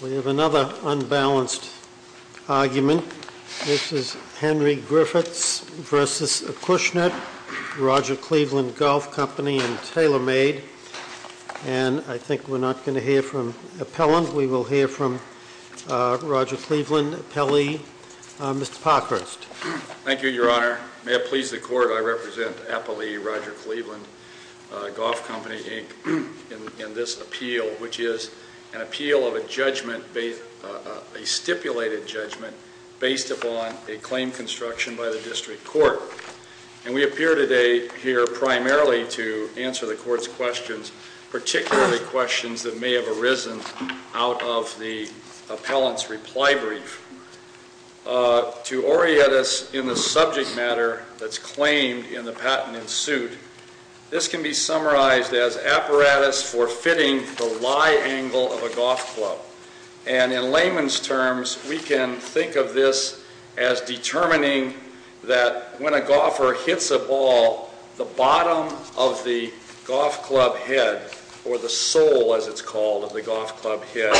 We have another unbalanced argument. This is Henry-Griffitts v. Acushnet, Roger Cleveland Golf Company and TaylorMade, and I think we're not going to hear from Appellant. We will hear from Roger Cleveland, Appellee, Mr. Parkhurst. Thank you, Your Honor. May it please the Court, I represent Appellee, Roger Cleveland, Golf Company, Inc., in this appeal, which is an appeal of a judgment, a stipulated judgment, based upon a claim construction by the District Court. And we appear today here primarily to answer the Court's questions, particularly questions that may have arisen out of the Appellant's reply brief. To orient us in the subject matter that's claimed in the patent in suit, this can be summarized as apparatus for fitting the lie angle of a golf club. And in layman's terms, we can think of this as determining that when a golfer hits a ball, the bottom of the golf club head, or the sole, as it's called, of the golf club head,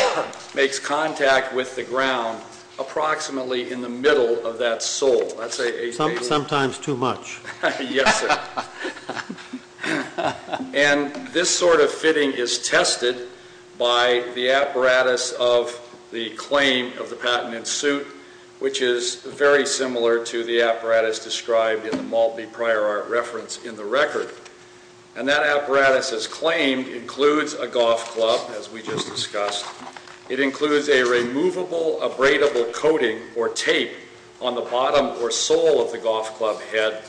makes contact with the ground approximately in the middle of that sole. Sometimes too much. Yes, sir. And this sort of fitting is very similar to the apparatus described in the Maltby Prior Art Reference in the record. And that apparatus, as claimed, includes a golf club, as we just discussed. It includes a removable, abradable coating, or tape, on the bottom or sole of the golf club head.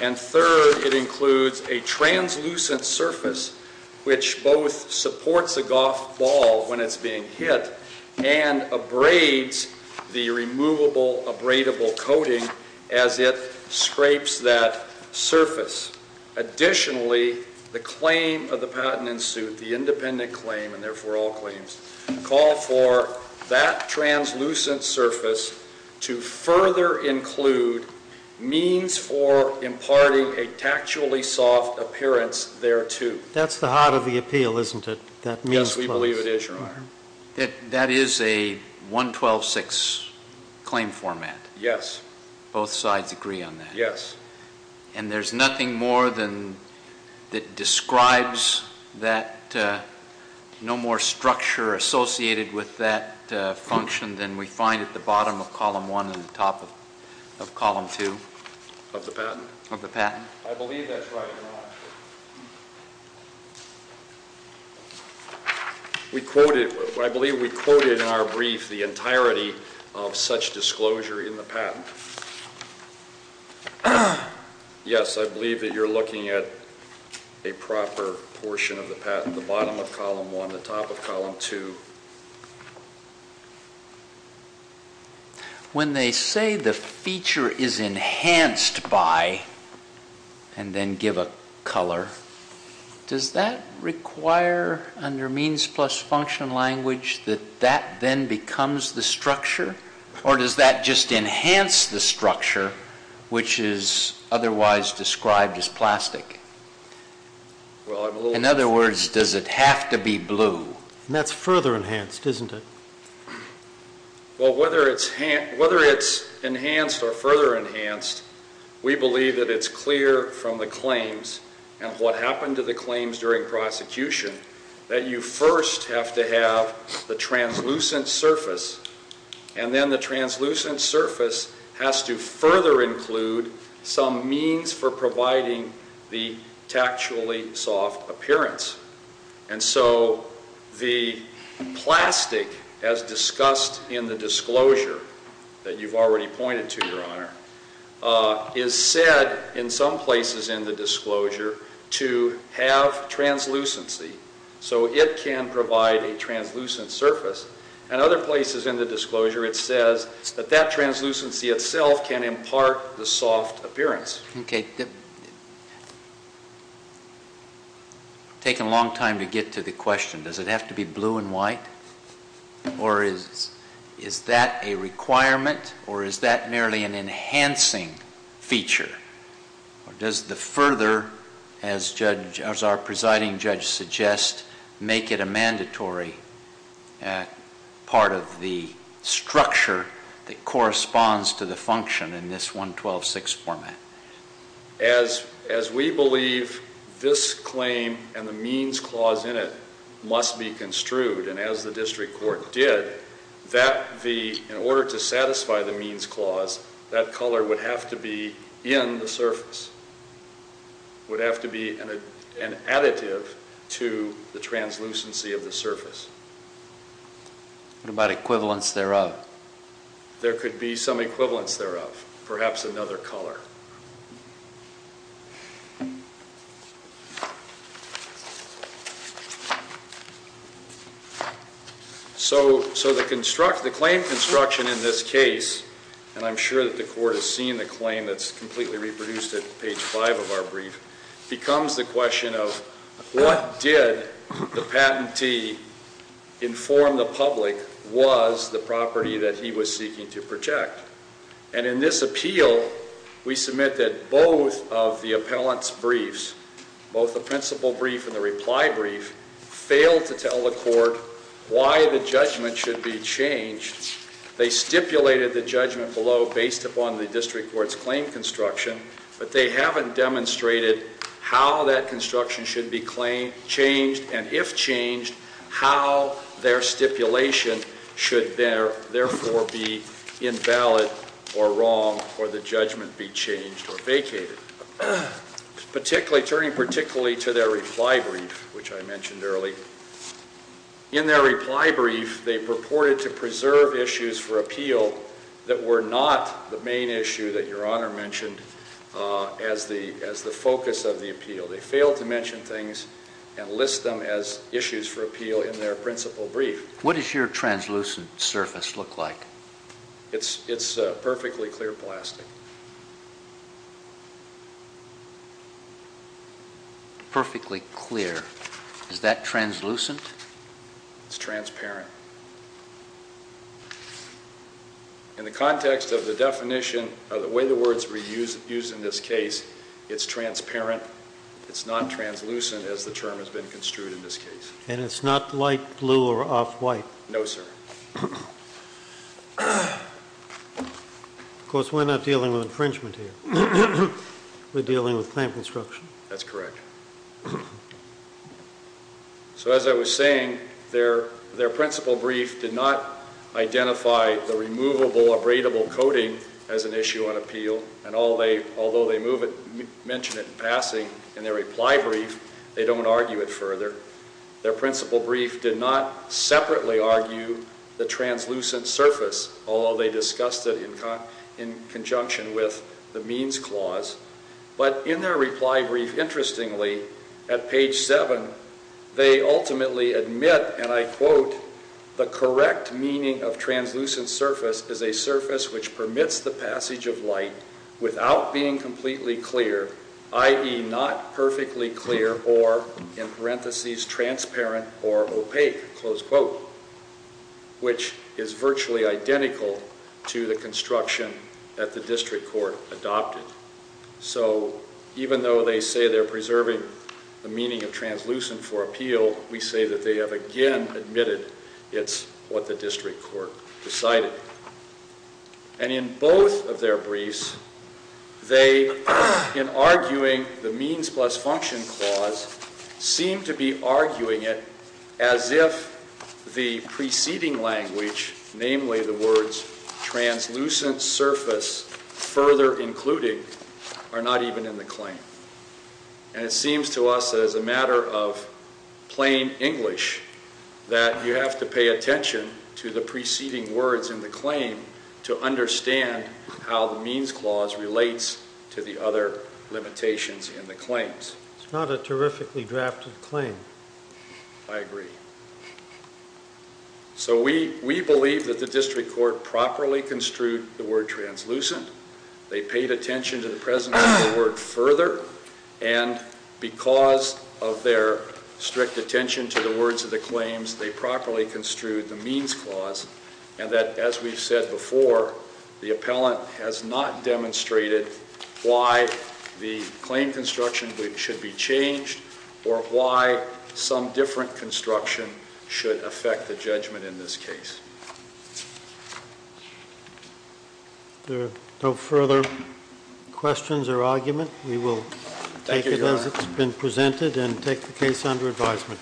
And third, it includes a translucent surface, which both supports the golf ball when it's being hit and abrades the removable, abradable coating as it scrapes that surface. Additionally, the claim of the patent in suit, the independent claim, and therefore all claims, call for that translucent surface to further include means for imparting a tactually soft appearance there, too. That's the heart of the appeal, isn't it? Yes, we believe it is, Your Honor. That is a 112-6 claim format? Yes. Both sides agree on that? Yes. And there's nothing more that describes that, no more structure associated with that function than we find at the bottom of Column 1 and the top of Column 2? Of the patent? Of the patent. I believe that's right, Your Honor. We quoted, I believe we quoted in our brief the entirety of such disclosure in the patent. Yes, I believe that you're looking at a proper portion of the patent, the bottom of Column 1. When they say the feature is enhanced by, and then give a color, does that require under means plus function language that that then becomes the structure? Or does that just enhance the structure, which is otherwise described as plastic? In other words, does it have to be blue? That's further enhanced, isn't it? Well, whether it's enhanced or further enhanced, we believe that it's clear from the claims and what happened to the claims during prosecution that you first have to have the translucent surface, and then the translucent surface has to further include some means for providing the tactually soft appearance. And so the plastic as discussed in the disclosure that you've already pointed to, Your Honor, is said in some places in the disclosure to have translucency. So it can provide a translucent surface. In other places in the disclosure, it says that that translucency itself can impart the soft appearance. Okay. It's taken a long time to get to the question. Does it have to be blue and white? Or is that a requirement? Or is that merely an enhancing feature? Or does the further, as our presiding judge suggests, make it a mandatory part of the structure that corresponds to the function in this 112-6 format? As we believe this claim and the means clause in it must be construed, and as the district court did, in order to would have to be an additive to the translucency of the surface. What about equivalence thereof? There could be some equivalence thereof, perhaps another color. So the claim construction in this case, and I'm sure that the court has seen the claim that's completely reproduced at page five of our brief, becomes the question of what did the patentee inform the public was the property that he was seeking to protect? And in this appeal, we submit that both of the appellant's briefs, both the principle brief and the reply brief, failed to tell the court why the judgment should be changed. They stipulated the judgment below based upon the district court's claim construction, but they haven't demonstrated how that construction should be changed, and if changed, how their stipulation should therefore be invalid or wrong or the judgment be changed or vacated. Turning particularly to their reply brief, which I mentioned earlier, in their reply brief, they purported to preserve issues for any issue that Your Honor mentioned as the focus of the appeal. They failed to mention things and list them as issues for appeal in their principle brief. What does your translucent surface look like? It's perfectly clear plastic. Perfectly clear. Is that translucent? It's transparent. In the context of the definition of the way the words were used in this case, it's transparent. It's not translucent, as the term has been construed in this case. And it's not light blue or off-white? No, sir. Of course, we're not dealing with infringement here. We're dealing with claim construction. That's correct. So as I was saying, their principle brief did not identify the removable, abradable coating as an issue on appeal, and although they mention it in passing in their reply brief, they don't argue it further. Their principle brief did not separately argue the translucent surface, although they discussed it in conjunction with the means clause. But in their reply brief, interestingly, at page 7, they ultimately admit, and I quote, the correct meaning of translucent surface is a surface which permits the passage of light without being completely clear, i.e. not perfectly clear or, in parentheses, transparent or opaque, close quote, which is virtually identical to the construction that the district court adopted. So even though they say they're preserving the meaning of translucent for appeal, we say that they have again admitted it's what the district court decided. And in both of their briefs, they, in arguing the means plus function clause, seem to be further including are not even in the claim. And it seems to us that as a matter of plain English that you have to pay attention to the preceding words in the claim to understand how the means clause relates to the other limitations in the claims. It's not a terrifically drafted claim. I agree. So we believe that the district court properly construed the word translucent. They paid attention to the preceding word further. And because of their strict attention to the words of the claims, they properly construed the means clause. And that, as we've said before, the appellant has not demonstrated why the claim construction should be changed or why some different construction should affect the judgment in this case. If there are no further questions or argument, we will take it as it's been presented and take the case under advisement. Thank you.??????